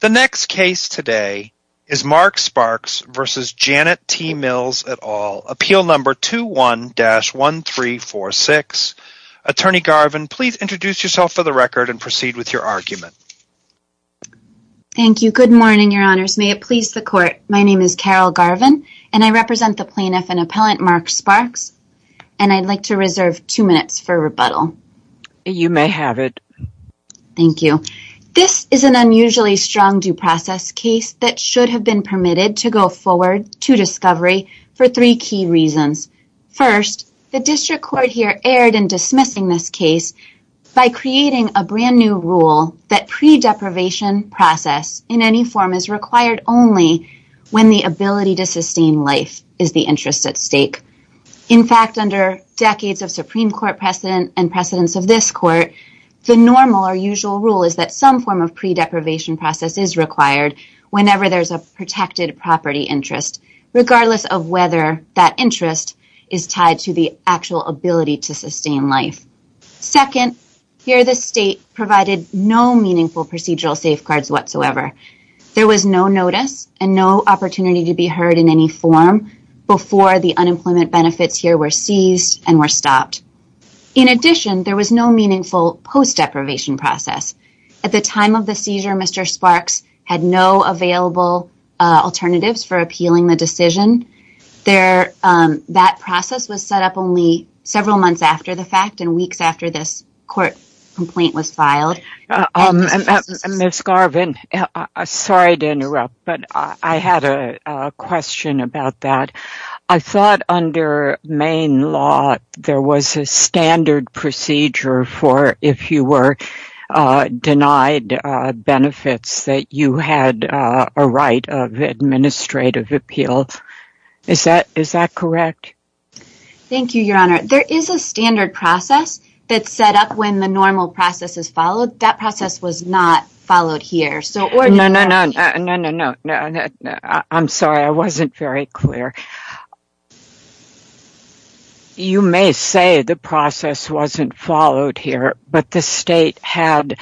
The next case today is Mark Sparks v. Janet T. Mills et al., appeal number 21-1346. Attorney Garvin, please introduce yourself for the record and proceed with your argument. Thank you. Good morning, your honors. May it please the court, my name is Carol Garvin, and I represent the plaintiff and appellant Mark Sparks, and I'd like to reserve two minutes for rebuttal. You may have it. Thank you. This is an unusually strong due process case that should have been permitted to go forward to discovery for three key reasons. First, the district court here erred in dismissing this case by creating a brand new rule that pre-deprivation process in any form is required only when the ability to sustain life is the interest at stake. In fact, under decades of Supreme Court precedent and precedents of this court, the normal or some form of pre-deprivation process is required whenever there's a protected property interest, regardless of whether that interest is tied to the actual ability to sustain life. Second, here the state provided no meaningful procedural safeguards whatsoever. There was no notice and no opportunity to be heard in any form before the unemployment benefits here were seized and were stopped. In addition, there was no meaningful post-deprivation process. At the time of the seizure, Mr. Sparks had no available alternatives for appealing the decision. That process was set up only several months after the fact and weeks after this court complaint was filed. Ms. Garvin, sorry to interrupt, but I had a question about that. I thought under Maine law there was a standard procedure for if you were denied benefits that you had a right of administrative appeal. Is that correct? Thank you, Your Honor. There is a standard process that's set up when the normal process is followed. That process was not followed here. No, no, no, I'm sorry, I wasn't very clear. You may say the process wasn't followed here, but the state had,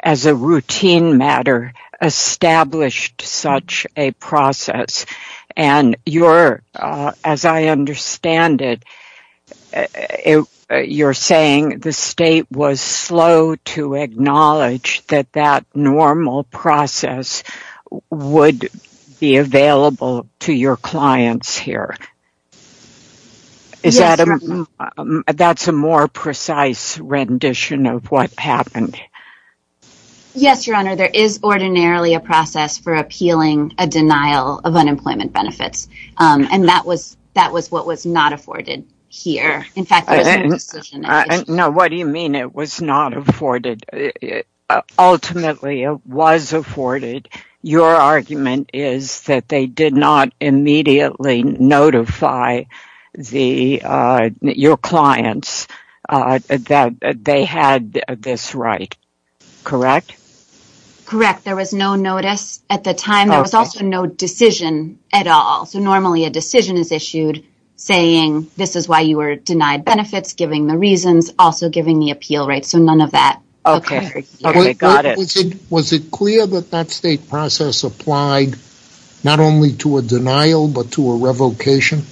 as a routine matter, established such a process. And you're, as I understand it, you're saying the state was slow to acknowledge that that normal process would be available to your clients here. That's a more precise rendition of what happened. Yes, Your Honor, there is ordinarily a process for appealing a denial of unemployment benefits. And that was what was not afforded here. In fact, there was no decision at issue. No, what do you mean it was not afforded? Ultimately, it was afforded. Your argument is that they did not immediately notify your clients that they had this right. Correct? Correct. There was no notice at the time. There was also no decision at all. So normally a decision is issued saying this is why you were denied benefits, giving the reasons, also giving the appeal rights, so none of that occurred here. Was it clear that that state process applied not only to a denial, but to a revocation?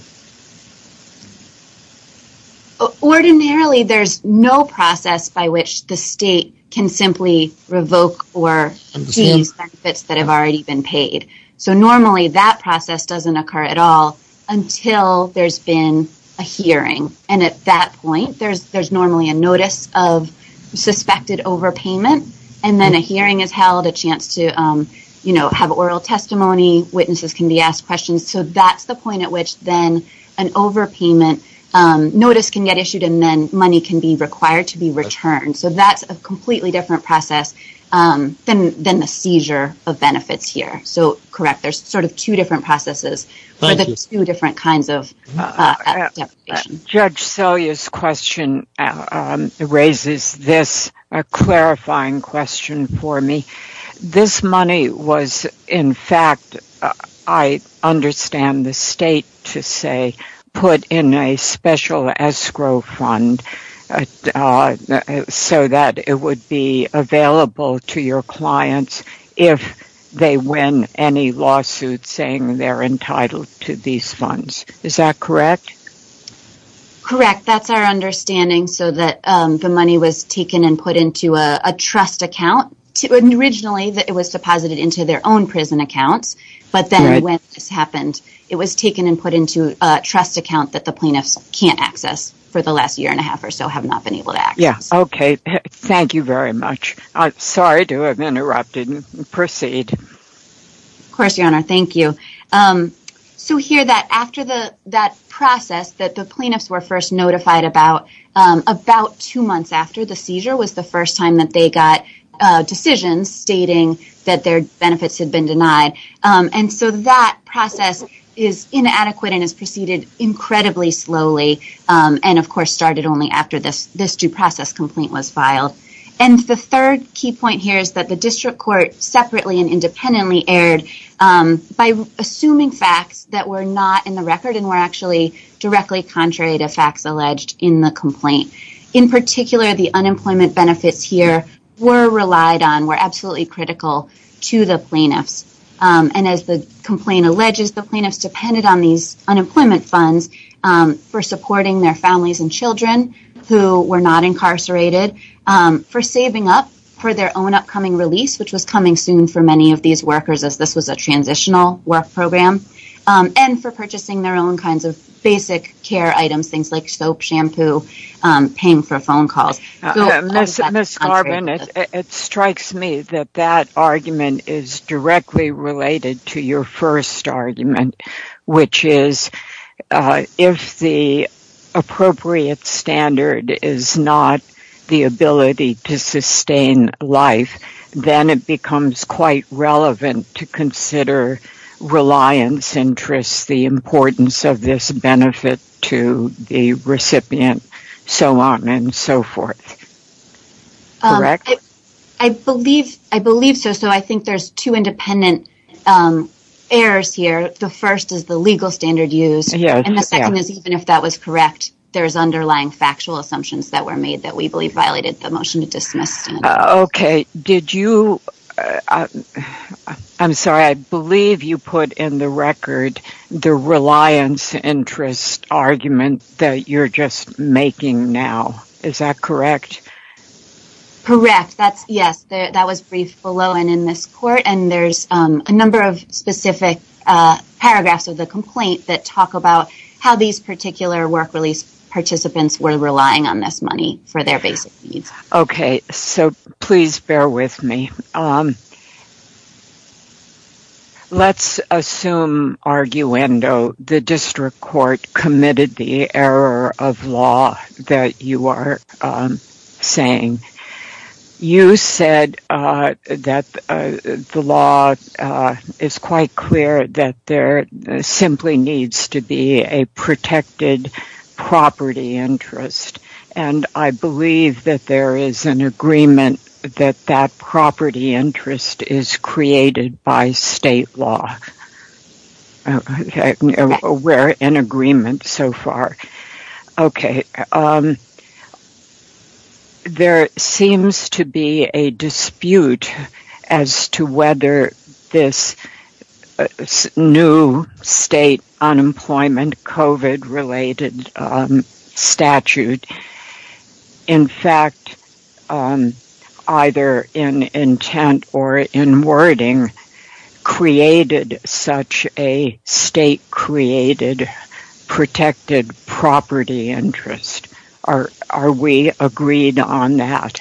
Ordinarily, there's no process by which the state can simply revoke or deem benefits that have already been paid. So normally that process doesn't occur at all until there's been a hearing. And at that point, there's normally a notice of suspected overpayment. And then a hearing is held, a chance to have oral testimony, witnesses can be asked questions. So that's the point at which then an overpayment notice can get issued and then money can be required to be returned. So that's a completely different process than the seizure of benefits here. So, correct, there's sort of two different processes for the two different kinds of revocation. Judge Selye's question raises this clarifying question for me. This money was, in fact, I understand the state to say, put in a special escrow fund so that it would be available to your clients if they win any lawsuits saying they're entitled to these funds. Is that correct? Correct. That's our understanding so that the money was taken and put into a trust account. Originally, it was deposited into their own prison accounts. But then when this happened, it was taken and put into a trust account that the plaintiffs can't access for the last year and a half or so, have not been able to access. Yeah. Okay. Thank you very much. Sorry to have interrupted. Proceed. Of course, Your Honor. Thank you. So, here, after that process that the plaintiffs were first notified about, about two months after the seizure was the first time that they got decisions stating that their benefits had been denied. And so that process is inadequate and has proceeded incredibly slowly and, of course, started only after this due process complaint was filed. And the third key point here is that the district court separately and independently erred by assuming facts that were not in the record and were actually directly contrary to facts alleged in the complaint. In particular, the unemployment benefits here were relied on, were absolutely critical to the plaintiffs. And as the complaint alleges, the plaintiffs depended on these unemployment funds for supporting their families and children who were not incarcerated, for saving up for their own upcoming release, which was coming soon for many of these workers as this was a transitional work program, and for purchasing their own kinds of basic care items, things like soap, shampoo, paying for phone calls. Miss Garvin, it strikes me that that argument is directly related to your first argument, which is if the appropriate standard is not the ability to sustain life, then it becomes quite relevant to consider reliance interests, the importance of this benefit to the recipient, so on and so forth. Correct? I believe so, so I think there's two independent errors here. The first is the legal standard used, and the second is even if that was correct, there is underlying factual assumptions that were made that we believe violated the motion to dismiss. Okay, did you, I'm sorry, I believe you put in the record the reliance interest argument that you're just making now. Is that correct? Correct, that's, yes, that was briefed below and in this court, and there's a number of specific paragraphs of the complaint that talk about how these particular work release participants were relying on this money for their basic needs. Okay, so please bear with me. Let's assume, arguendo, the district court committed the error of law that you are saying. You said that the law is quite clear that there simply needs to be a protected property interest, and I believe that there is an agreement that that property interest is created by state law. We're in agreement so far. Okay, there seems to be a dispute as to whether this new state unemployment COVID-related statute, in fact, either in intent or in wording, created such a state-created protected property interest. Are we agreed on that?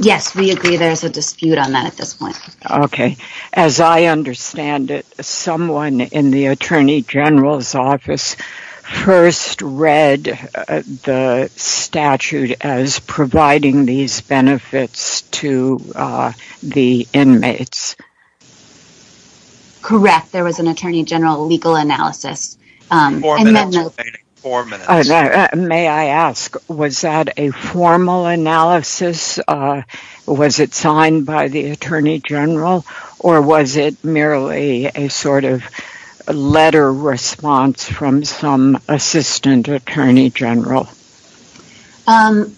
Yes, we agree there is a dispute on that at this point. Okay, as I understand it, someone in the Attorney General's office first read the statute as providing these benefits to the inmates. Correct, there was an Attorney General legal analysis. Four minutes remaining, four minutes. May I ask, was that a formal analysis? Was it signed by the Attorney General, or was it merely a sort of letter response from some Assistant Attorney General?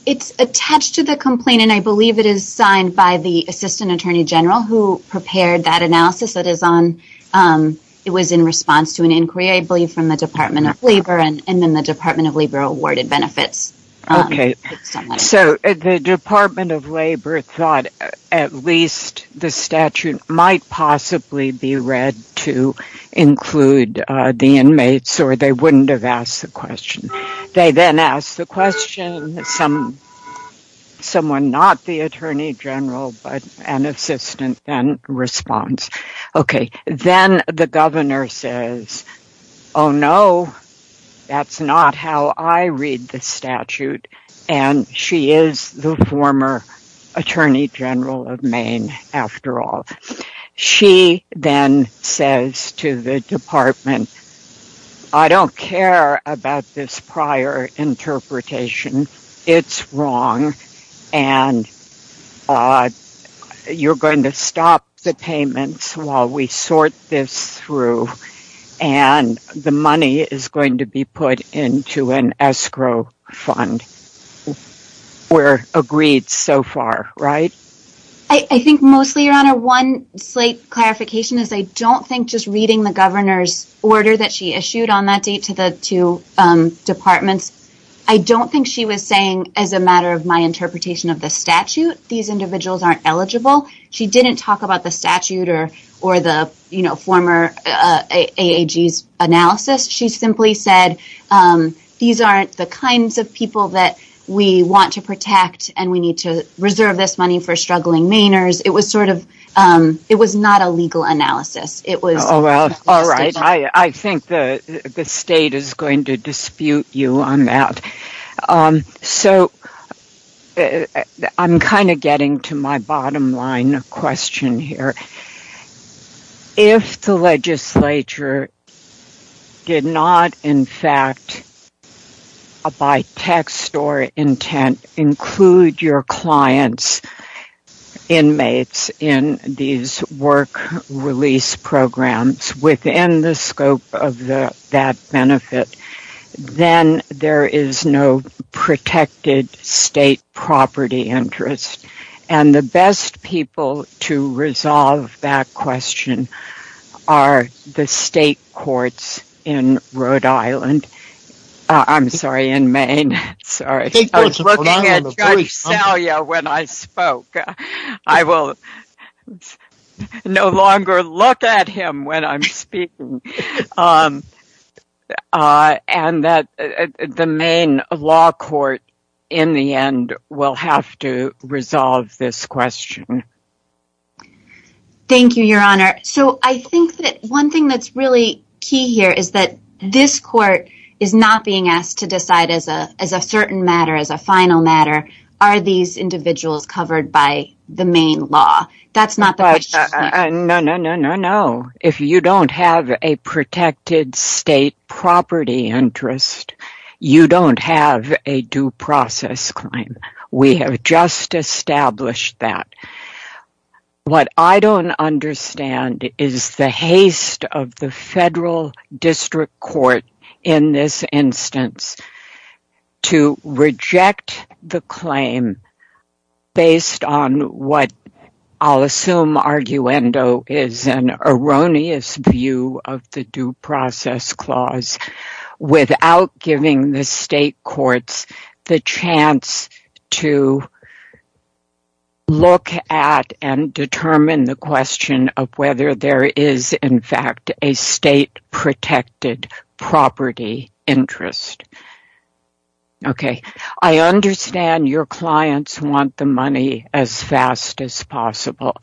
It's attached to the complaint, and I believe it is signed by the Assistant Attorney General, who prepared that analysis. It was in response to an inquiry, I believe, from the Department of Labor, and then the Department of Labor awarded benefits. Okay, so the Department of Labor thought at least the statute might possibly be read to include the inmates, or they wouldn't have asked the question. They then asked the question, someone not the Attorney General, but an assistant then responds. Okay, then the governor says, oh no, that's not how I read the statute, and she is the former Attorney General of Maine, after all. She then says to the department, I don't care about this prior interpretation. It's wrong, and you're going to stop the payments while we sort this through, and the money is going to be put into an escrow fund. We're agreed so far, right? I think mostly, Your Honor, one slight clarification is I don't think just reading the governor's order that she issued on that date to the two departments, I don't think she was saying as a matter of my interpretation of the statute, these individuals aren't eligible. She didn't talk about the statute or the former AAG's analysis. She simply said, these aren't the kinds of people that we want to protect, and we need to reserve this money for struggling Mainers. It was not a legal analysis. All right, I think the state is going to dispute you on that. So, I'm kind of getting to my bottom line question here. If the legislature did not, in fact, by text or intent, include your clients, inmates, in these work release programs within the scope of that benefit, then there is no protected state property interest. And the best people to resolve that question are the state courts in Rhode Island. I'm sorry, in Maine. Sorry. I was looking at Judge Salyer when I spoke. I will no longer look at him when I'm speaking. And the Maine law court, in the end, will have to resolve this question. Thank you, Your Honor. So, I think that one thing that's really key here is that this court is not being asked to decide as a certain matter, as a final matter, are these individuals covered by the Maine law. That's not the question. No, no, no, no, no. If you don't have a protected state property interest, you don't have a due process claim. We have just established that. What I don't understand is the haste of the federal district court in this instance to the claim based on what I'll assume arguendo is an erroneous view of the due process clause without giving the state courts the chance to look at and determine the question of whether there is, in fact, a state protected property interest. Okay. I understand your clients want the money as fast as possible.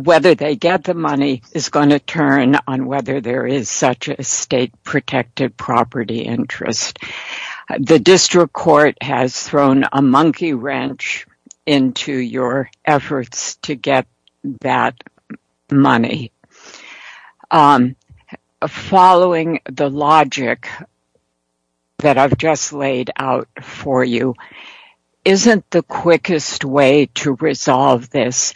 Whether they get the money is going to turn on whether there is such a state protected property interest. The district court has thrown a monkey wrench into your efforts to get that money. Following the logic that I've just laid out for you, isn't the quickest way to resolve this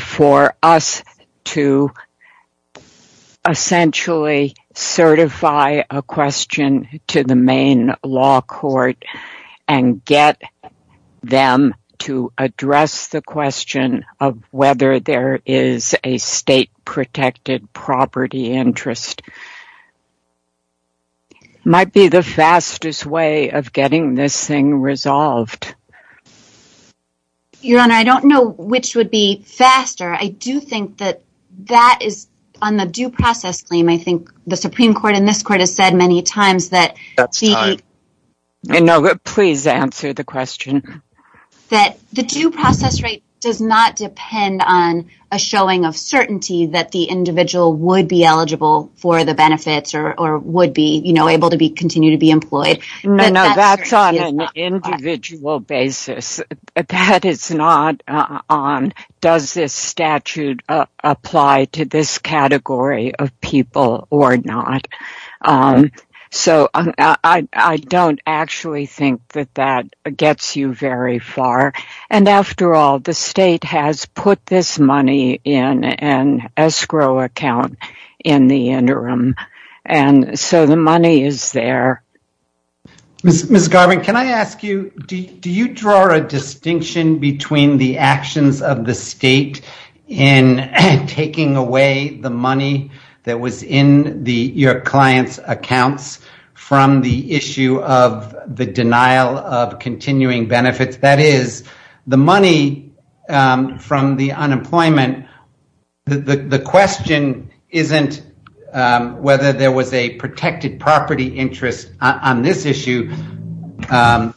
for us to essentially certify a question to the Maine law court and get them to address the question of whether there is a state protected property interest might be the fastest way of getting this thing resolved? Your Honor, I don't know which would be faster. I do think that that is on the due process claim. I think the Supreme Court in this court has said many times that. That's time. No, but please answer the question. That the due process rate does not depend on a showing of certainty that the individual would be eligible for the benefits or would be able to continue to be employed. No, that's on an individual basis. That is not on does this statute apply to this category of people or not. I don't actually think that that gets you very far. After all, the state has put this money in an escrow account in the interim, so the money is there. Ms. Garvin, can I ask you, do you draw a distinction between the actions of the state in taking away the money that was in your clients' accounts from the issue of the denial of continuing benefits? That is, the money from the unemployment, the question isn't whether there was a protected property interest on this issue in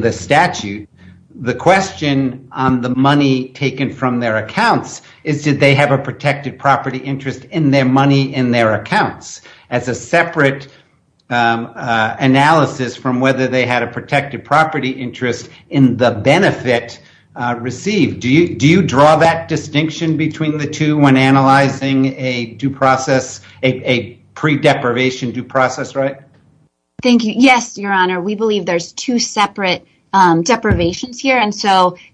the statute. The question on the money taken from their accounts is did they have a protected property interest in their money in their accounts as a separate analysis from whether they had a protected property interest in the benefit received. Do you draw that distinction between the two when analyzing a pre-deprivation due process Thank you. Yes, Your Honor. We believe there are two separate deprivations here.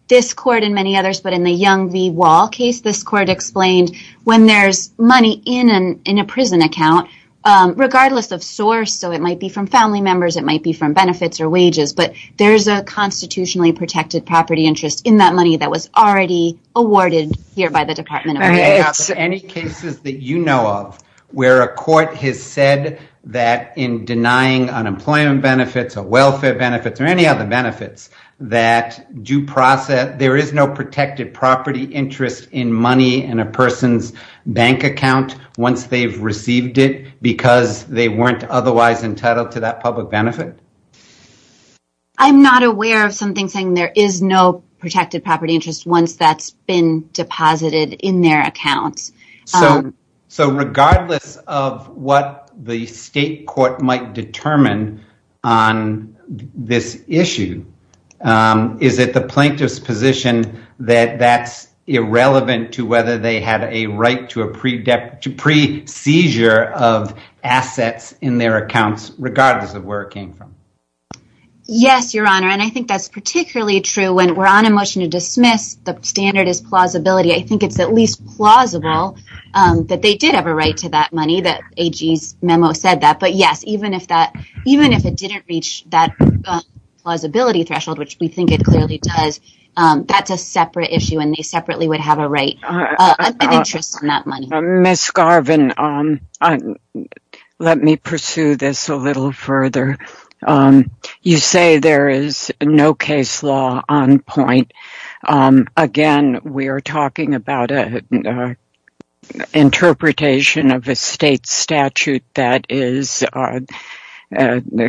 This Court and many others, but in the Young v. Wall case, this Court explained when there is money in a prison account, regardless of source, so it might be from family members, it might be from benefits or wages, but there is a constitutionally protected property interest in that money that was already awarded here by the Department of Justice. Any cases that you know of where a court has said that in denying unemployment benefits or welfare benefits or any other benefits, there is no protected property interest in money in a person's bank account once they've received it because they weren't otherwise entitled to that public benefit? I'm not aware of something saying there is no protected property interest once that's been deposited in their accounts. So, regardless of what the state court might determine on this issue, is it the plaintiff's position that that's irrelevant to whether they had a right to a pre-seizure of assets in their accounts, regardless of where it came from? Yes, Your Honor, and I think that's particularly true when we're on a motion to dismiss, the standard is plausibility. I think it's at least plausible that they did have a right to that money, that AG's memo said that, but yes, even if it didn't reach that plausibility threshold, which we think it clearly does, that's a separate issue and they separately would have an interest in that money. Ms. Garvin, let me pursue this a little further. You say there is no case law on point. Again, we are talking about an interpretation of a state statute that is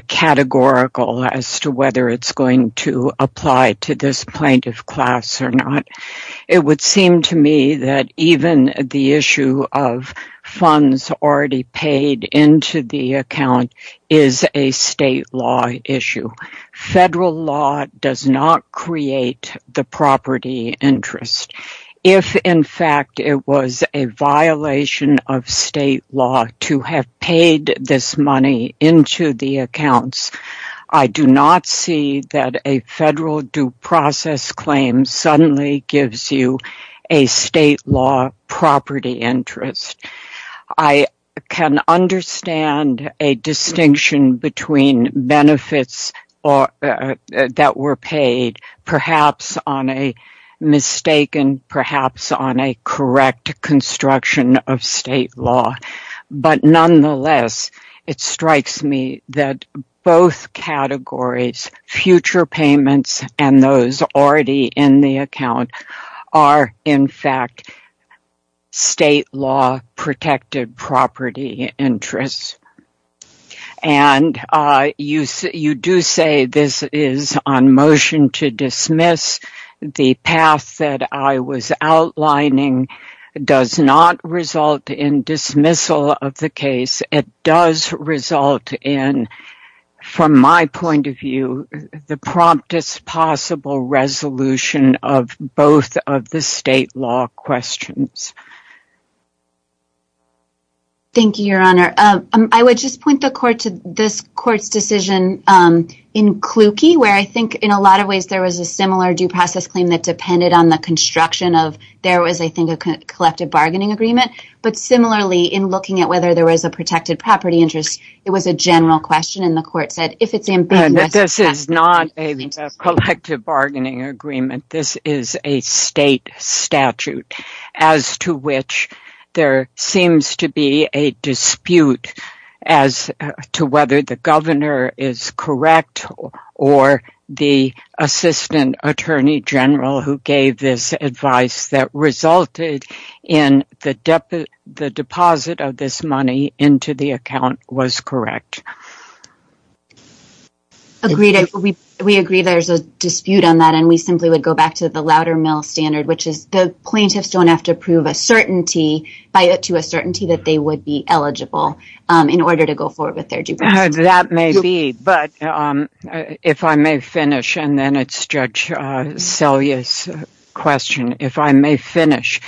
categorical as to whether it's going to apply to this plaintiff class or not. It would seem to me that even the issue of funds already paid into the account is a state law issue. Federal law does not create the property interest. If, in fact, it was a violation of state law to have paid this money into the accounts, I do not see that a federal due process claim suddenly gives you a state law property interest. I can understand a distinction between benefits that were paid, perhaps on a mistaken, perhaps on a correct construction of state law. Nonetheless, it strikes me that both categories, future payments and those already in the account, are, in fact, state law protected property interests. You do say this is on motion to dismiss. The path that I was outlining does not result in dismissal of the case. It does result in, from my point of view, the promptest possible resolution of both of the state law questions. Thank you, Your Honor. I would just point the court to this court's decision in Kluge, where I think in a lot of ways there was a similar due process claim that depended on the construction of, there was, I think, a collective bargaining agreement. Similarly, in looking at whether there was a protected property interest, it was a general question and the court said, if it's ambiguous... This is not a collective bargaining agreement. This is a state statute, as to which there seems to be a dispute as to whether the governor is correct or the assistant attorney general who gave this advice that resulted in the deposit of this money into the account was correct. Agreed. We agree there's a dispute on that and we simply would go back to the louder mill standard, which is the plaintiffs don't have to prove a certainty to a certainty that they would be eligible in order to go forward with their due process. That may be, but if I may finish, and then it's Judge Selye's question. If I may finish,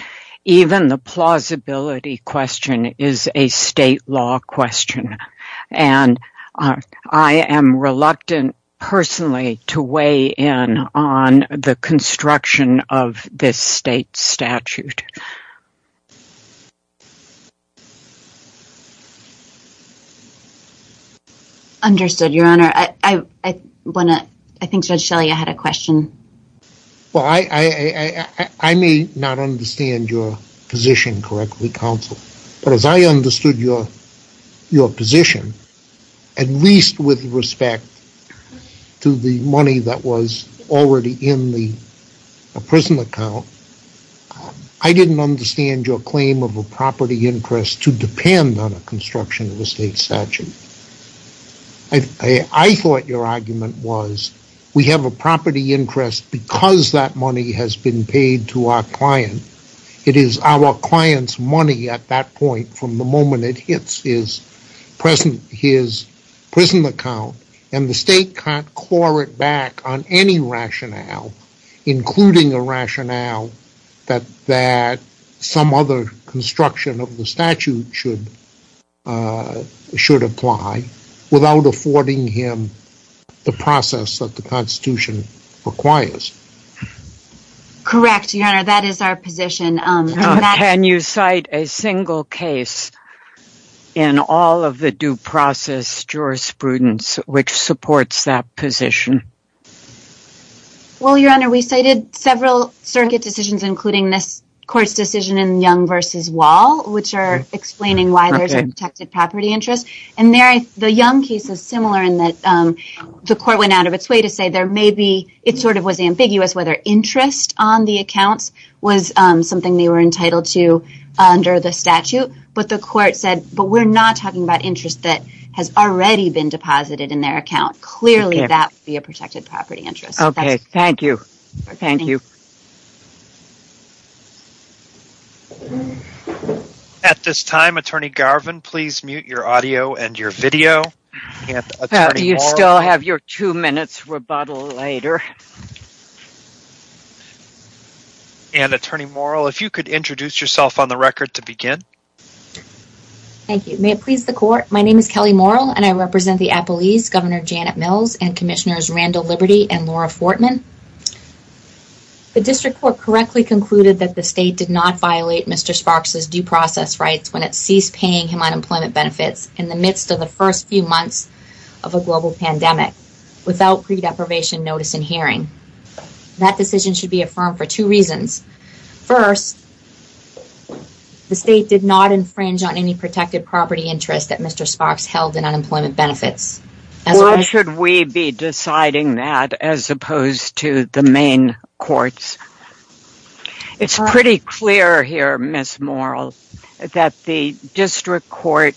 even the plausibility question is a state law question and I am reluctant personally to weigh in on the construction of this state statute. Understood, Your Honor. I think Judge Selye had a question. Well, I may not understand your position correctly, Counsel, but as I understood your position, at least with respect to the money that was already in the prison account, I didn't understand your claim of a property interest to depend on a construction of a state statute. I thought your argument was we have a property interest because that money has been paid to our client. It is our client's money at that point from the moment it hits his prison account and the state can't claw it back on any rationale, including a rationale that some other construction of the statute should apply without affording him the process that the Constitution requires. Correct, Your Honor, that is our position. Can you cite a single case in all of the due process jurisprudence which supports that position? Well, Your Honor, we cited several circuit decisions, including this Court's decision in Young v. Wall, which are explaining why there is a protected property interest. The Young case is similar in that the Court went out of its way to say it sort of was ambiguous whether interest on the accounts was something they were entitled to under the statute, but the Court said, but we're not talking about interest that has already been deposited in their account. Clearly, that would be a protected property interest. Okay, thank you. At this time, Attorney Garvin, please mute your audio and your video. Do you still have your two minutes rebuttal later? And Attorney Morrell, if you could introduce yourself on the record to begin. Thank you. May it please the Court. My name is Kelly Morrell and I represent the Appalese Governor Janet Mills and Commissioners Randall Liberty and Laura Fortman. The District Court correctly concluded that the State did not violate Mr. Sparks' due process rights when it ceased paying him unemployment benefits in the midst of the first few months of a global pandemic without pre-deprivation notice in hearing. That decision should be affirmed for two reasons. First, the State did not infringe on any protected property interest that Mr. Sparks held in unemployment benefits. Or should we be deciding that as opposed to the main courts? It's pretty clear here, Ms. Morrell, that the District Court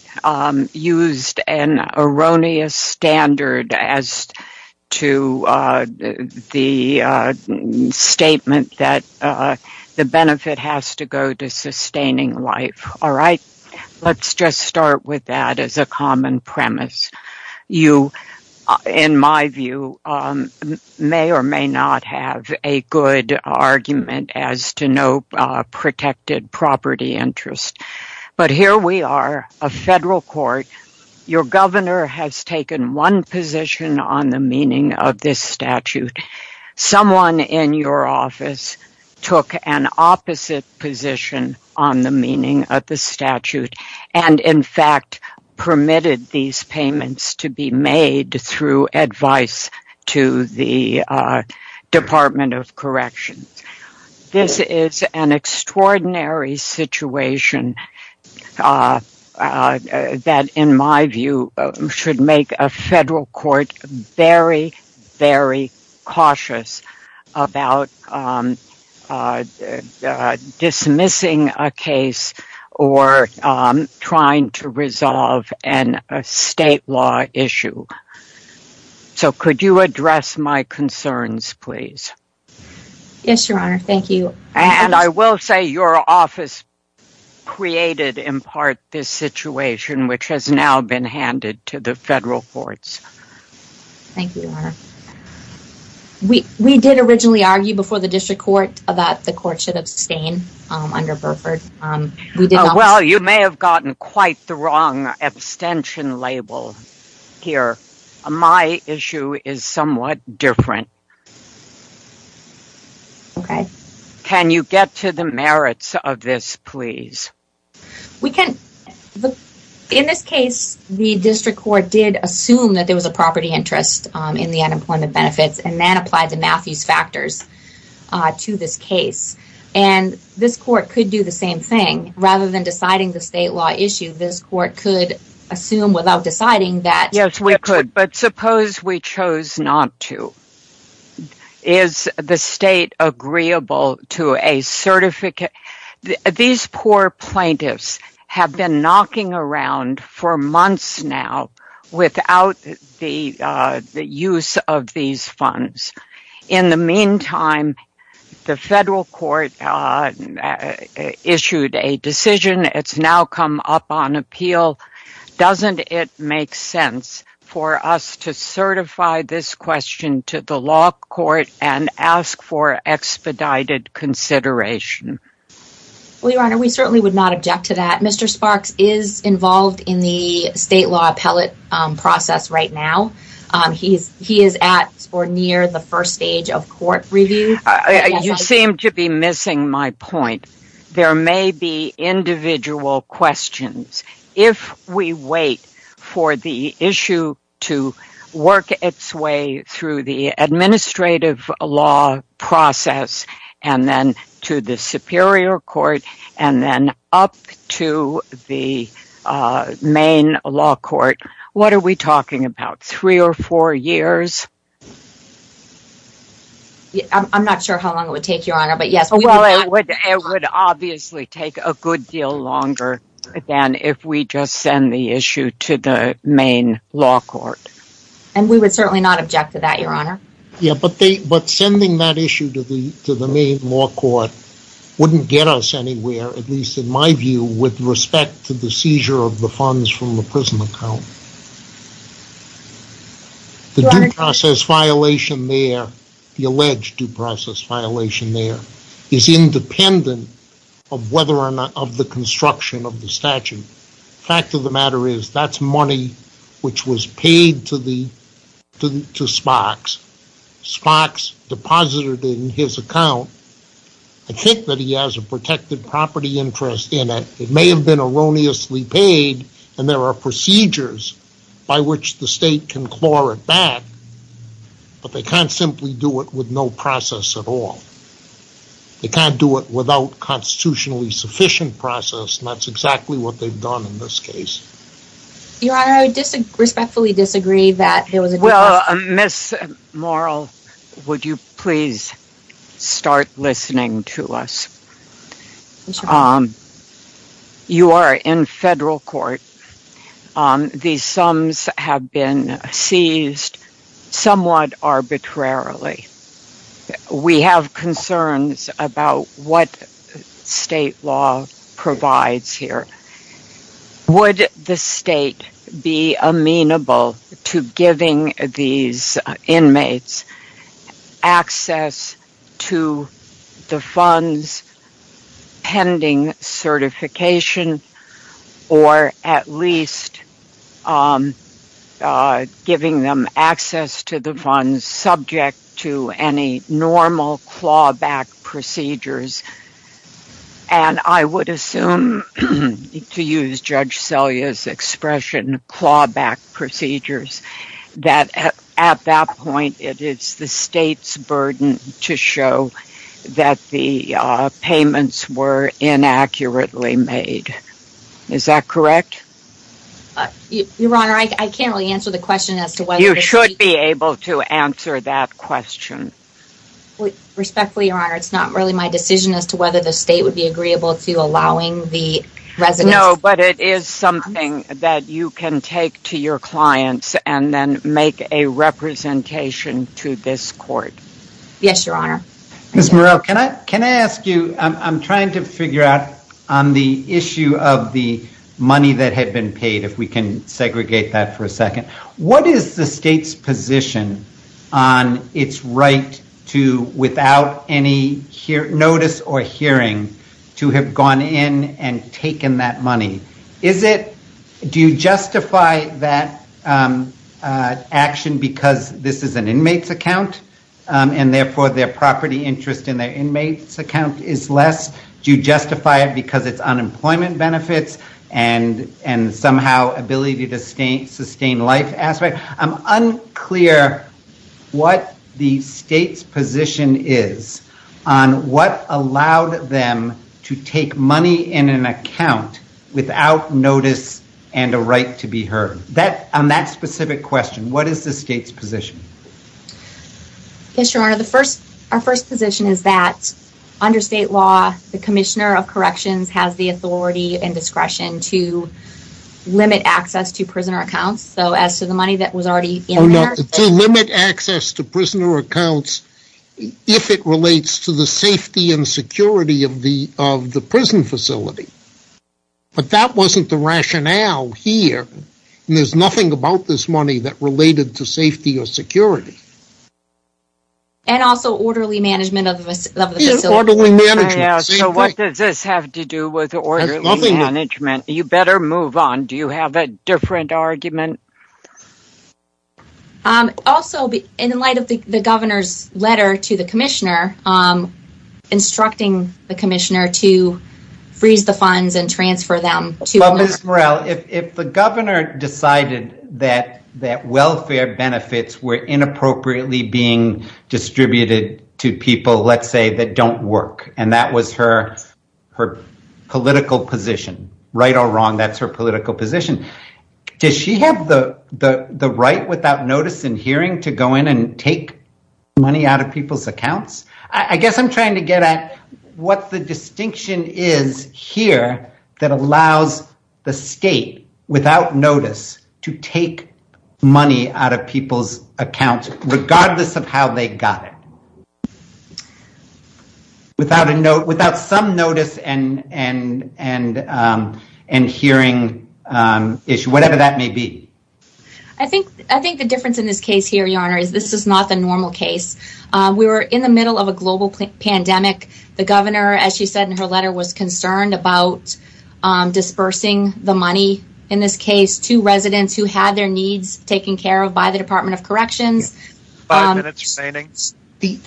used an erroneous standard as to the statement that the benefit has to go to sustaining life. All right, let's just start with that as a common premise. You, in my view, may or may not have a good argument as to no protected property interest. But here we are, a federal court. Your governor has taken one position on the meaning of this statute. Someone in your office took an opposite position on the meaning of the statute and in fact permitted these payments to be made through advice to the Department of Corrections. This is an extraordinary situation that, in my view, should make a federal court very, very cautious about dismissing a case or trying to resolve a state law issue. So could you address my concerns, please? Yes, Your Honor. Thank you. And I will say your office created, in part, this situation, which has now been handed to the federal courts. Thank you, Your Honor. We did originally argue before the District Court that the court should abstain under Burford. Well, you may have gotten quite the wrong abstention label here. My issue is somewhat different. Okay. Can you get to the merits of this, please? We can. In this case, the District Court did assume that there was a property interest in the unemployment benefits and then applied the Matthews factors to this case. And this court could do the same thing. Rather than deciding the state law issue, this court could assume without deciding that Yes, we could. But suppose we chose not to. Is the state agreeable to a certificate? These poor plaintiffs have been knocking around for months now without the use of these funds. In the meantime, the federal court issued a decision. It's now come up on appeal. Doesn't it make sense for us to certify this question to the law court and ask for expedited consideration? Well, Your Honor, we certainly would not object to that. Mr. Sparks is involved in the state law appellate process right now. He is at or near the first stage of court review. You seem to be missing my point. There may be individual questions. If we wait for the issue to work its way through the administrative law process and then to the superior court and then up to the main law court, what are we talking about? Three or four years? I'm not sure how long it would take, Your Honor. It would obviously take a good deal longer than if we just send the issue to the main law court. And we would certainly not object to that, Your Honor. But sending that issue to the main law court wouldn't get us anywhere, at least in my view, with respect to the seizure of the funds from the prison account. The due process violation there, the alleged due process violation there, is independent of the construction of the statute. The fact of the matter is that's money which was paid to Sparks. Sparks deposited it in his account. I think that he has a protected property interest in it. It may have been erroneously paid, and there are procedures by which the state can claw it back, but they can't simply do it with no process at all. They can't do it without constitutionally sufficient process, and that's exactly what they've done in this case. Your Honor, I respectfully disagree that there was a due process violation. Ms. Morrell, would you please start listening to us? Yes, Your Honor. You are in federal court. These sums have been seized somewhat arbitrarily. We have concerns about what state law provides here. Would the state be amenable to giving these inmates access to the funds pending certification, or at least giving them access to the funds subject to any normal clawback procedures? And I would assume, to use Judge Selye's expression, clawback procedures, that at that point it is the state's burden to show that the payments were inaccurately made. Is that correct? Your Honor, I can't really answer the question as to whether... You should be able to answer that question. Respectfully, Your Honor, it's not really my decision as to whether the state would be agreeable to allowing the residents... No, but it is something that you can take to your clients and then make a representation to this court. Yes, Your Honor. Ms. Morrell, can I ask you, I'm trying to figure out on the issue of the money that had been paid, what is the state's position on its right to, without any notice or hearing, to have gone in and taken that money? Do you justify that action because this is an inmate's account, and therefore their property interest in their inmate's account is less? Do you justify it because it's unemployment benefits and somehow ability to sustain life aspect? I'm unclear what the state's position is on what allowed them to take money in an account without notice and a right to be heard. On that specific question, what is the state's position? Yes, Your Honor, our first position is that under state law, the Commissioner of Corrections has the authority and discretion to limit access to prisoner accounts. So as to the money that was already in there... To limit access to prisoner accounts if it relates to the safety and security of the prison facility. But that wasn't the rationale here. There's nothing about this money that related to safety or security. And also orderly management of the facility. Yes, orderly management. So what does this have to do with orderly management? You better move on. Do you have a different argument? Also, in light of the Governor's letter to the Commissioner, instructing the Commissioner to freeze the funds and transfer them to... Ms. Morrell, if the Governor decided that welfare benefits were inappropriately being distributed to people, let's say, that don't work, and that was her political position. Right or wrong, that's her political position. Does she have the right without notice and hearing to go in and take money out of people's accounts? I guess I'm trying to get at what the distinction is here that allows the state, without notice, to take money out of people's accounts regardless of how they got it. Without some notice and hearing issue, whatever that may be. I think the difference in this case here, Your Honor, is this is not the normal case. We were in the middle of a global pandemic. The Governor, as she said in her letter, was concerned about dispersing the money, in this case, to residents who had their needs taken care of by the Department of Corrections. Five minutes remaining.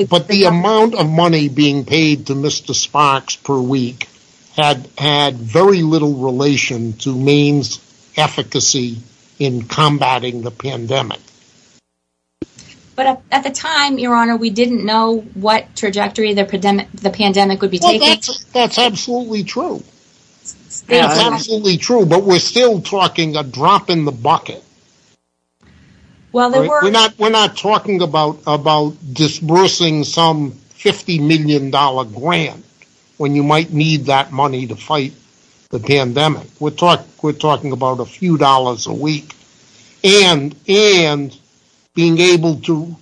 But the amount of money being paid to Mr. Sparks per week had very little relation to Maine's efficacy in combating the pandemic. But at the time, Your Honor, we didn't know what trajectory the pandemic would be taking. Well, that's absolutely true. It's absolutely true, but we're still talking a drop in the bucket. We're not talking about disbursing some $50 million grant when you might need that money to fight the pandemic. We're talking about a few dollars a week and being able to,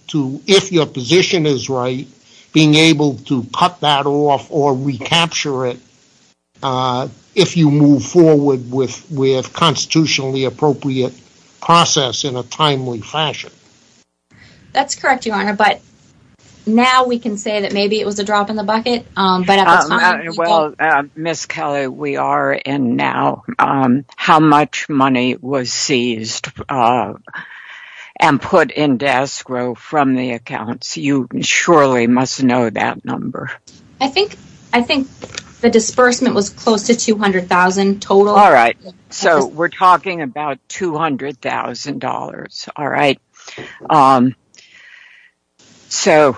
if your position is right, being able to cut that off or recapture it if you move forward with a constitutionally appropriate process in a timely fashion. That's correct, Your Honor, but now we can say that maybe it was a drop in the bucket. Well, Ms. Kelly, we are in now. How much money was seized and put into escrow from the accounts? You surely must know that number. I think the disbursement was close to $200,000 total. All right. So we're talking about $200,000. All right. So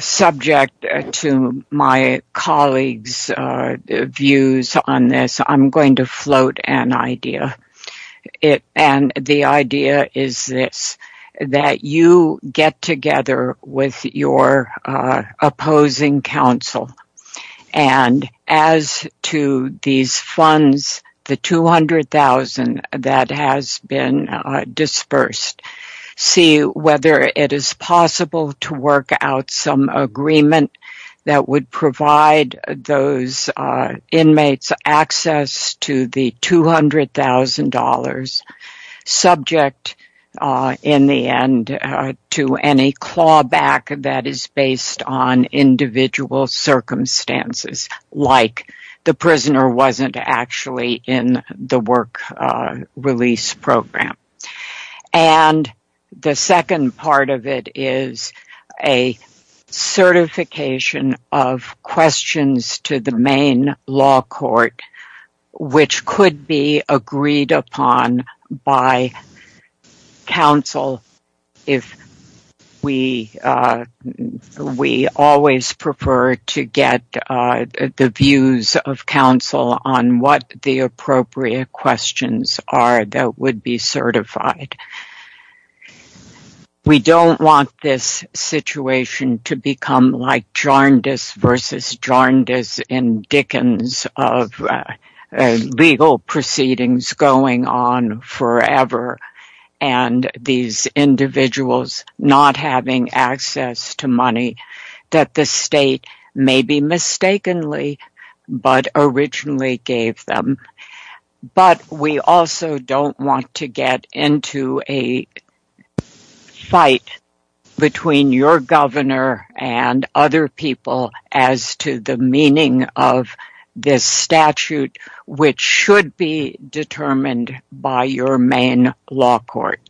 subject to my colleagues' views on this, I'm going to float an idea. And the idea is this, that you get together with your opposing counsel. And as to these funds, the $200,000 that has been disbursed, see whether it is possible to work out some agreement that would provide those inmates access to the $200,000, subject in the end to any clawback that is based on individual circumstances, like the prisoner wasn't actually in the work release program. And the second part of it is a certification of questions to the main law court, which could be agreed upon by counsel if we always prefer to get the views of counsel on what the appropriate questions are that would be certified. We don't want this situation to become like JARNDIS versus JARNDIS in Dickens, of legal proceedings going on forever and these individuals not having access to money that the state maybe mistakenly but originally gave them. But we also don't want to get into a fight between your governor and other people as to the meaning of this statute, which should be determined by your main law court.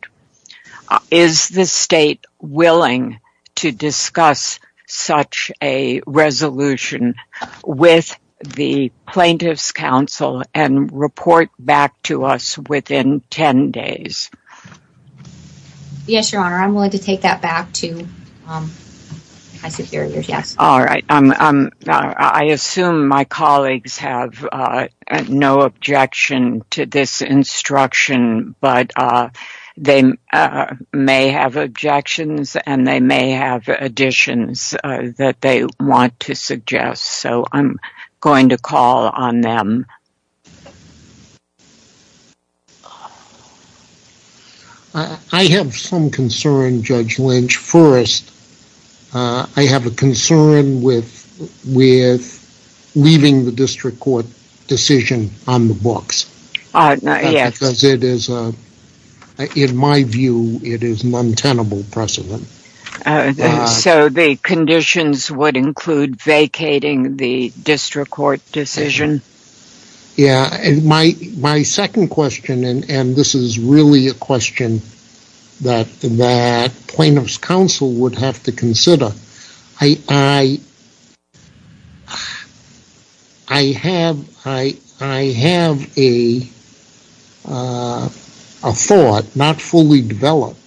Is the state willing to discuss such a resolution with the plaintiff's counsel and report back to us within 10 days? Yes, Your Honor. I'm willing to take that back to my superiors, yes. All right. I assume my colleagues have no objection to this instruction, but they may have objections and they may have additions that they want to suggest. So I'm going to call on them. I have some concern, Judge Lynch, first. I have a concern with leaving the district court decision on the books. Yes. Because it is, in my view, it is an untenable precedent. So the conditions would include vacating the district court decision? Yes. My second question, and this is really a question that plaintiff's counsel would have to consider, I have a thought, not fully developed,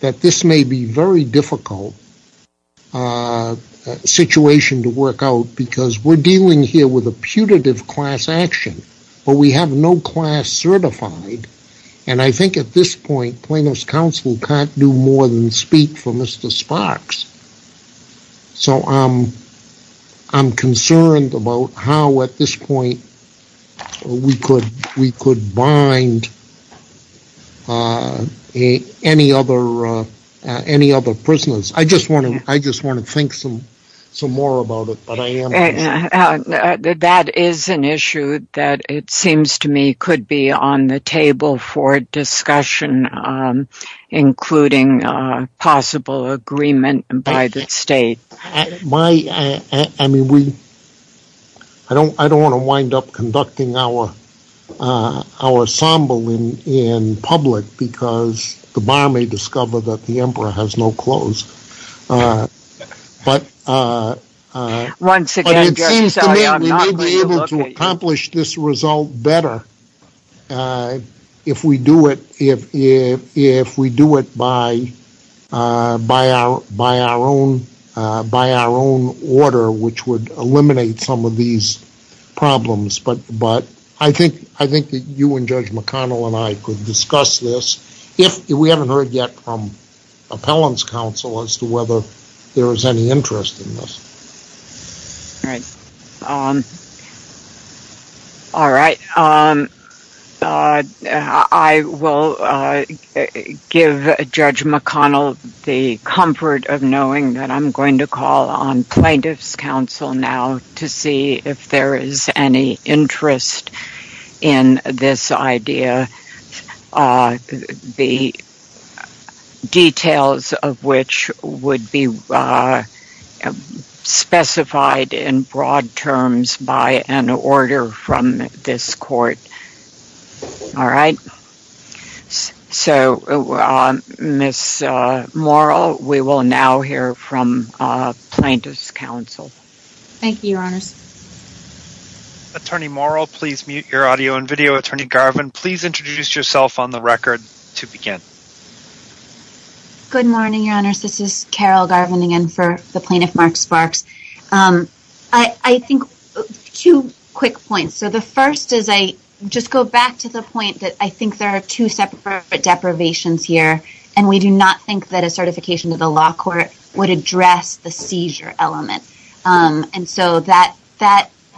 that this may be a very difficult situation to work out because we're dealing here with a putative class action, but we have no class certified. And I think at this point, plaintiff's counsel can't do more than speak for Mr. Sparks. So I'm concerned about how at this point we could bind any other prisoners. I just want to think some more about it. That is an issue that it seems to me could be on the table for discussion, including possible agreement by the state. I don't want to wind up conducting our ensemble in public because the bar may discover that the emperor has no clothes. But it seems to me we may be able to accomplish this result better if we do it by our own order, which would eliminate some of these problems. But I think that you and Judge McConnell and I could discuss this, if we haven't heard yet from appellant's counsel as to whether there is any interest in this. All right. I will give Judge McConnell the comfort of knowing that I'm going to call on plaintiff's counsel now to see if there is any interest in this idea, the details of which would be specified in broad terms by an order from this court. All right. Ms. Morrell, we will now hear from plaintiff's counsel. Thank you, Your Honors. Attorney Morrell, please mute your audio and video. Attorney Garvin, please introduce yourself on the record to begin. Good morning, Your Honors. This is Carol Garvin again for the plaintiff, Mark Sparks. I think two quick points. The first is I just go back to the point that I think there are two separate deprivations here, and we do not think that a certification to the law court would address the seizure element. And so that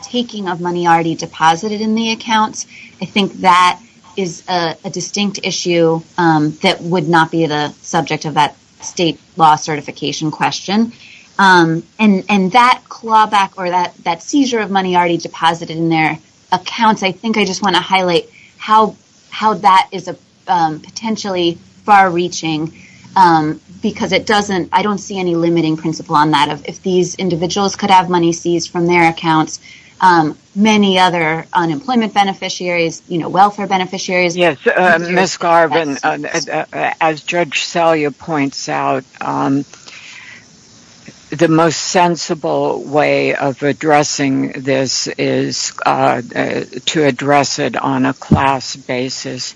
taking of money already deposited in the accounts, I think that is a distinct issue that would not be the subject of that state law certification question. And that clawback or that seizure of money already deposited in their accounts, I think I just want to highlight how that is potentially far-reaching because I don't see any limiting principle on that. If these individuals could have money seized from their accounts, many other unemployment beneficiaries, welfare beneficiaries. Yes, Ms. Garvin, as Judge Salyer points out, the most sensible way of addressing this is to address it on a class basis.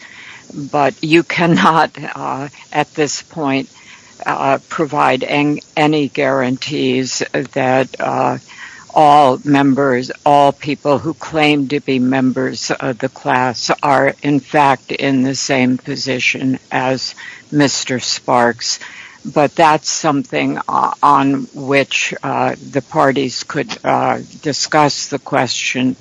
But you cannot at this point provide any guarantees that all members, all people who claim to be members of the class are in fact in the same position as Mr. Sparks. But that's something on which the parties could discuss the question.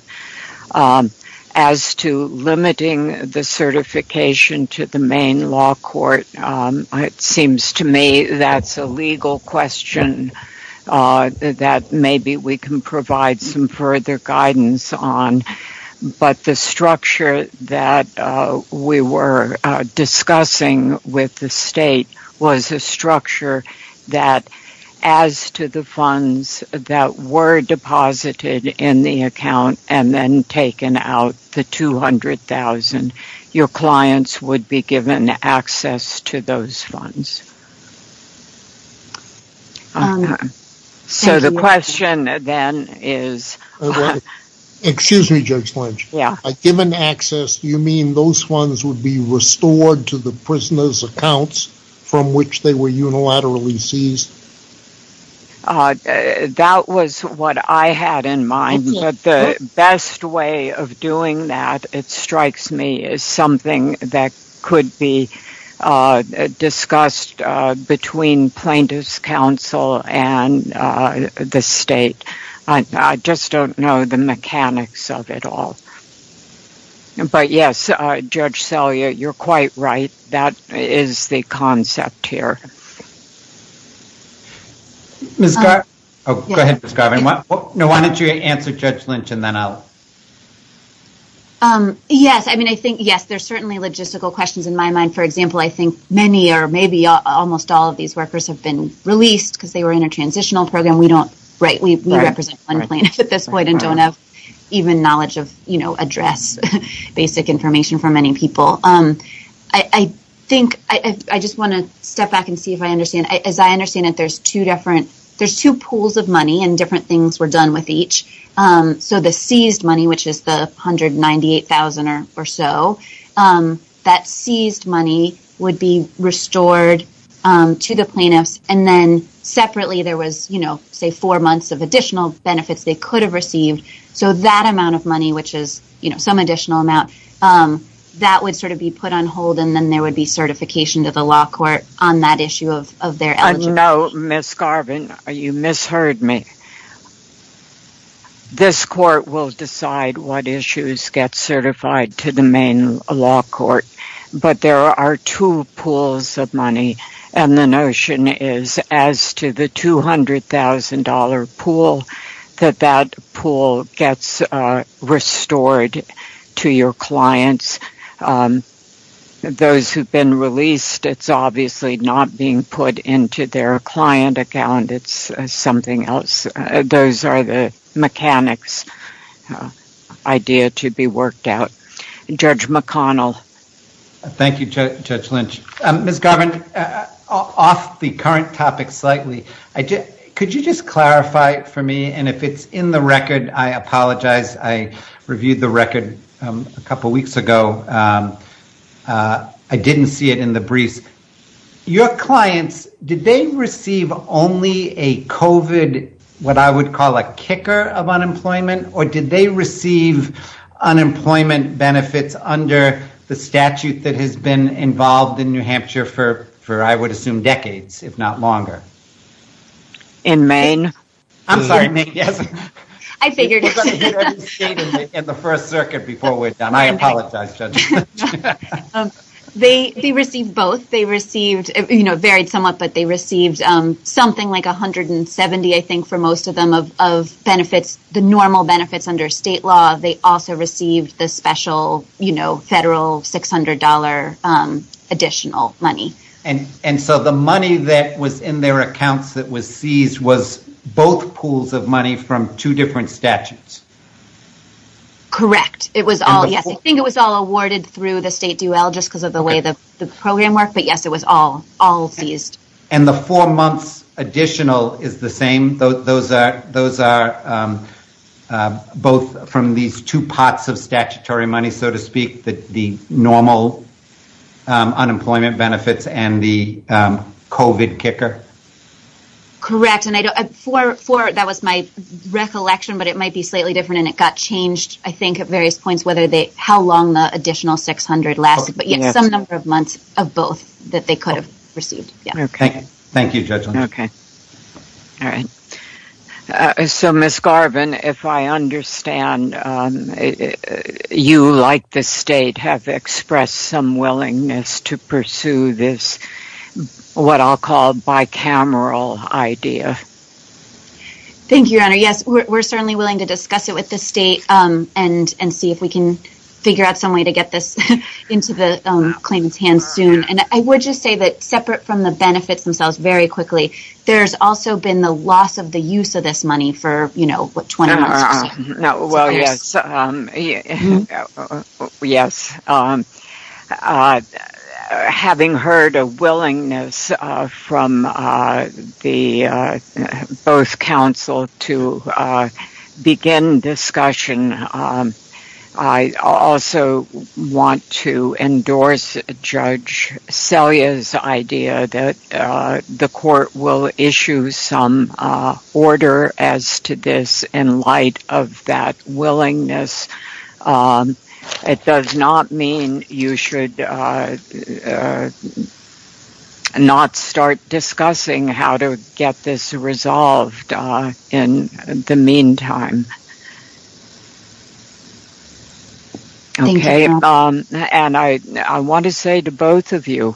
As to limiting the certification to the main law court, it seems to me that's a legal question that maybe we can provide some further guidance on. But the structure that we were discussing with the state was a structure that, as to the funds that were deposited in the account and then taken out, the $200,000, your clients would be given access to those funds. Excuse me, Judge Lynch. By given access, you mean those funds would be restored to the prisoners' accounts from which they were unilaterally seized? That was what I had in mind. But the best way of doing that, it strikes me, is something that could be discussed between plaintiffs' counsel and the state. I just don't know the mechanics of it all. But yes, Judge Salyer, you're quite right. That is the concept here. Go ahead, Ms. Garvin. Why don't you answer Judge Lynch and then I'll... Yes, there are certainly logistical questions in my mind. For example, I think many or maybe almost all of these workers have been released because they were in a transitional program. We represent one plaintiff at this point and don't have even knowledge of addressing basic information for many people. I think I just want to step back and see if I understand. As I understand it, there's two pools of money and different things were done with each. So the seized money, which is the $198,000 or so, that seized money would be restored to the plaintiffs and then separately there was, say, four months of additional benefits they could have received. So that amount of money, which is some additional amount, that would sort of be put on hold and then there would be certification to the law court on that issue of their eligibility. No, Ms. Garvin, you misheard me. This court will decide what issues get certified to the main law court. But there are two pools of money and the notion is as to the $200,000 pool, that that pool gets restored to your clients. Those who have been released, it's obviously not being put into their client account. It's something else. Those are the mechanics' idea to be worked out. Judge McConnell. Thank you, Judge Lynch. Ms. Garvin, off the current topic slightly, could you just clarify for me, and if it's in the record, I apologize. I reviewed the record a couple weeks ago. I didn't see it in the briefs. Your clients, did they receive only a COVID, what I would call a kicker of unemployment, or did they receive unemployment benefits under the statute that has been involved in New Hampshire for I would assume decades, if not longer? In Maine. I'm sorry, Maine, yes. I figured. We're going to hit every state in the First Circuit before we're done. I apologize, Judge Lynch. They received both. They received, it varied somewhat, but they received something like $170, I think, for most of them, of benefits, the normal benefits under state law. They also received the special federal $600 additional money. And so the money that was in their accounts that was seized was both pools of money from two different statutes? Correct. It was all, yes. I think it was all awarded through the state Duel just because of the way the program worked, but yes, it was all seized. And the four months additional is the same? Those are both from these two pots of statutory money, so to speak, the normal unemployment benefits and the COVID kicker? Correct. That was my recollection, but it might be slightly different and it got changed, I think, at various points, how long the additional $600 lasted, but some number of months of both that they could have received. Thank you, Judge Lynch. Okay. All right. So, Ms. Garvin, if I understand, you, like the state, have expressed some willingness to pursue this, what I'll call, bicameral idea. Thank you, Your Honor. Yes, we're certainly willing to discuss it with the state and see if we can figure out some way to get this into the claimant's hands soon. And I would just say that, given the benefits themselves very quickly, there's also been the loss of the use of this money for, you know, what, 20 months or so? Well, yes. Yes. Having heard a willingness from both counsel to begin discussion, I also want to endorse Judge Selye's idea that the court will issue some order as to this in light of that willingness. It does not mean you should not start discussing how to get this resolved in the meantime. Thank you, Your Honor. Okay. And I want to say to both of you,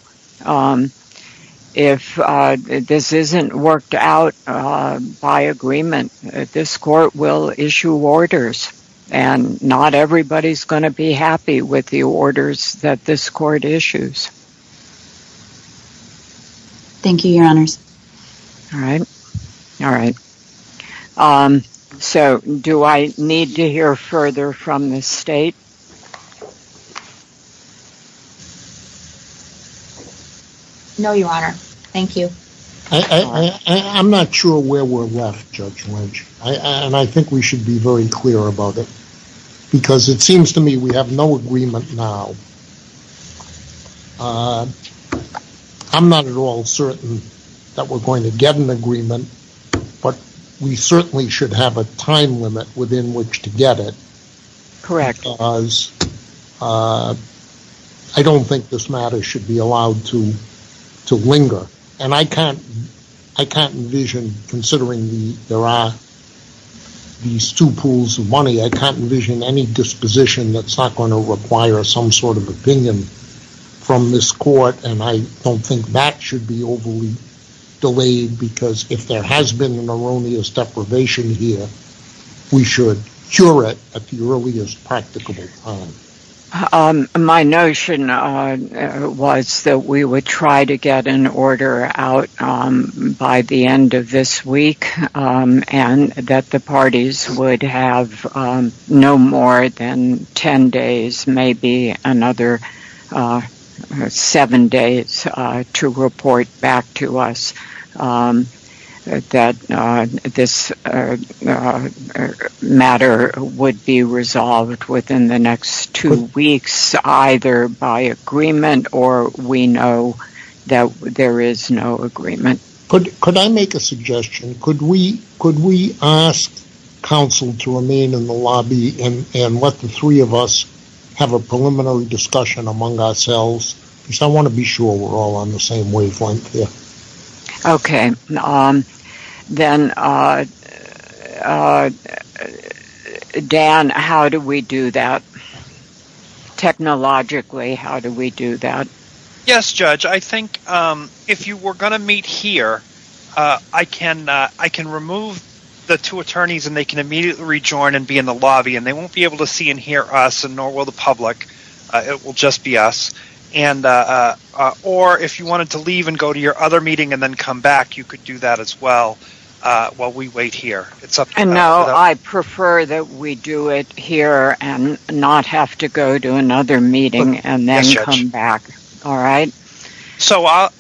if this isn't worked out by agreement, this court will issue orders and not everybody's going to be happy with the orders that this court issues. Thank you, Your Honors. All right. All right. So, do I need to hear further from the State? No, Your Honor. Thank you. I'm not sure where we're left, Judge Lynch, and I think we should be very clear about it because it seems to me we have no agreement now. I'm not at all certain that we're going to get an agreement, but we certainly should have a time limit within which to get it. Correct. Because I don't think this matter should be allowed to linger, and I can't envision, considering there are these two pools of money, I can't envision any disposition that's not going to require some sort of opinion from this court, and I don't think that should be overly delayed because if there has been an erroneous deprivation here, we should cure it at the earliest practicable time. My notion was that we would try to get an order out by the end of this week and that the parties would have no more than 10 days, maybe another seven days, to report back to us that this matter would be resolved within the next two weeks either by agreement or we know that there is no agreement. Could I make a suggestion? Could we ask counsel to remain in the lobby and let the three of us have a preliminary discussion among ourselves? Because I want to be sure we're all on the same wavelength here. Okay. Then, Dan, how do we do that? Technologically, how do we do that? Yes, Judge, I think if you were going to meet here, I can remove the two attorneys and they can immediately rejoin and be in the lobby and they won't be able to see and hear us and nor will the public. It will just be us. Or if you wanted to leave and go to your other meeting and then come back, you could do that as well while we wait here. No, I prefer that we do it here and not have to go to another meeting and then come back. All right?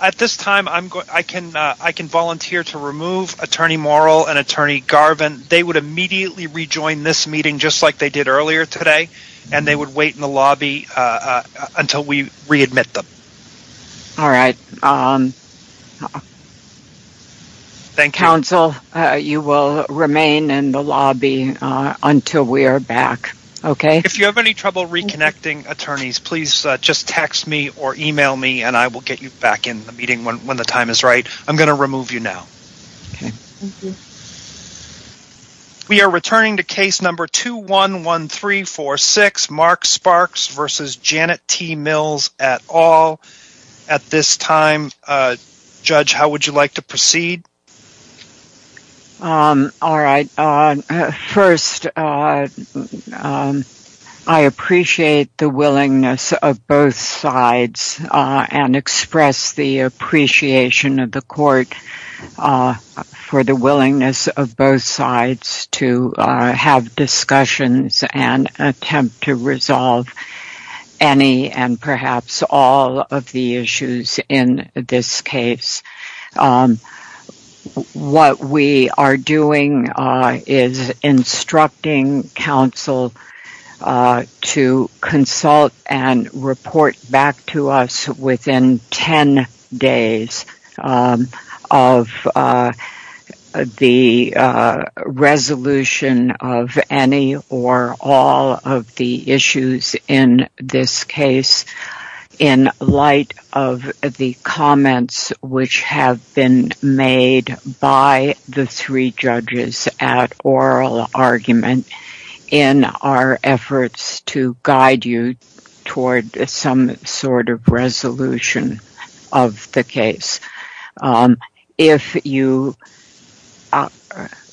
At this time, I can volunteer to remove Attorney Morrill and Attorney Garvin. They would immediately rejoin this meeting just like they did earlier today and they would wait in the lobby until we readmit them. All right. Thank you. Counsel, you will remain in the lobby until we are back. If you have any trouble reconnecting attorneys, please just text me or email me and I will get you back in the meeting when the time is right. I'm going to remove you now. We are returning to case number 211346, Mark Sparks v. Janet T. Mills et al. At this time, Judge, how would you like to proceed? All right. First, I appreciate the willingness of both sides and express the appreciation of the Court for the willingness of both sides to have discussions and attempt to resolve any and perhaps all of the issues in this case. What we are doing is instructing counsel to consult and report back to us within 10 days of the resolution of any or all of the issues in this case in light of the comments which have been made by the three judges at oral argument in our efforts to guide you toward some sort of resolution of the case.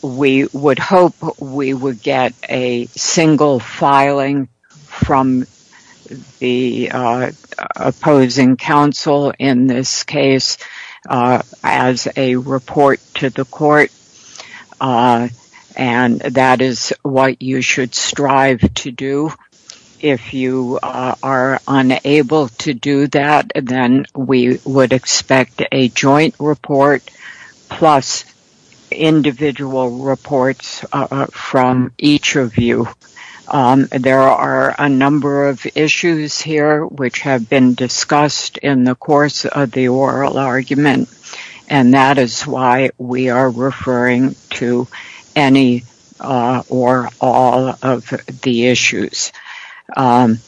We would hope we would get a single filing from the opposing counsel in this case as a report to the Court and that is what you should strive to do. If you are unable to do that, then we would expect a joint report plus individual reports from each of you. There are a number of issues here which have been discussed in the course of the oral argument and that is why we are referring to any or all of the issues. It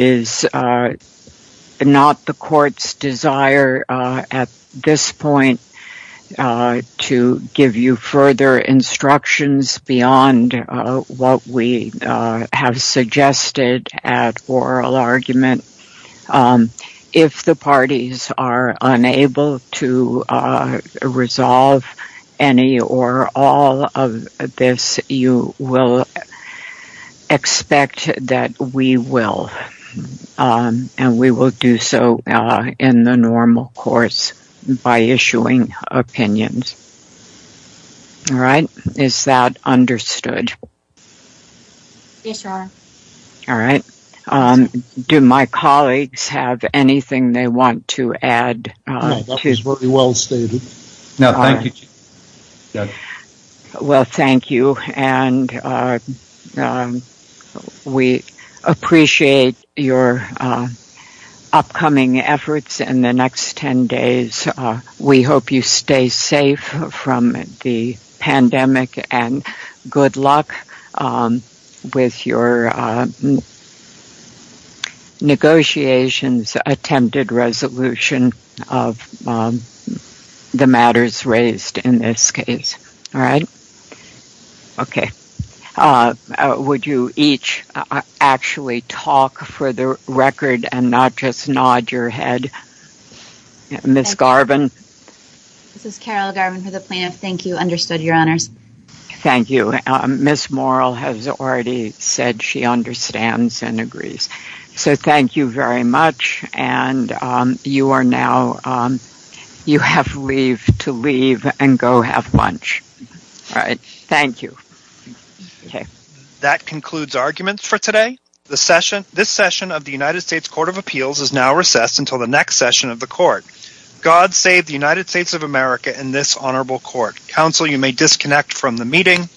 is not the Court's desire at this point to give you further instructions beyond what we have suggested at oral argument. If the parties are unable to resolve any or all of this, you will expect that we will and we will do so in the normal course by issuing opinions. Is that understood? Yes, Your Honor. Do my colleagues have anything they want to add? No, that is very well stated. No, thank you. Well, thank you and we appreciate your upcoming efforts in the next 10 days. We hope you stay safe from the pandemic and good luck with your negotiations, attempted resolution of the matters raised in this case. All right? Okay. Would you each actually talk for the record and not just nod your head? Ms. Garvin. This is Carol Garvin for the plaintiff. Thank you. Understood, Your Honors. Thank you. Ms. Morrell has already said she understands and agrees. So thank you very much and you are now, you have to leave and go have lunch. All right. Thank you. Okay. That concludes arguments for today. This session of the United States Court of Appeals is now recessed until the next session of the Court. God save the United States of America and this honorable court. Counsel, you may disconnect from the meeting.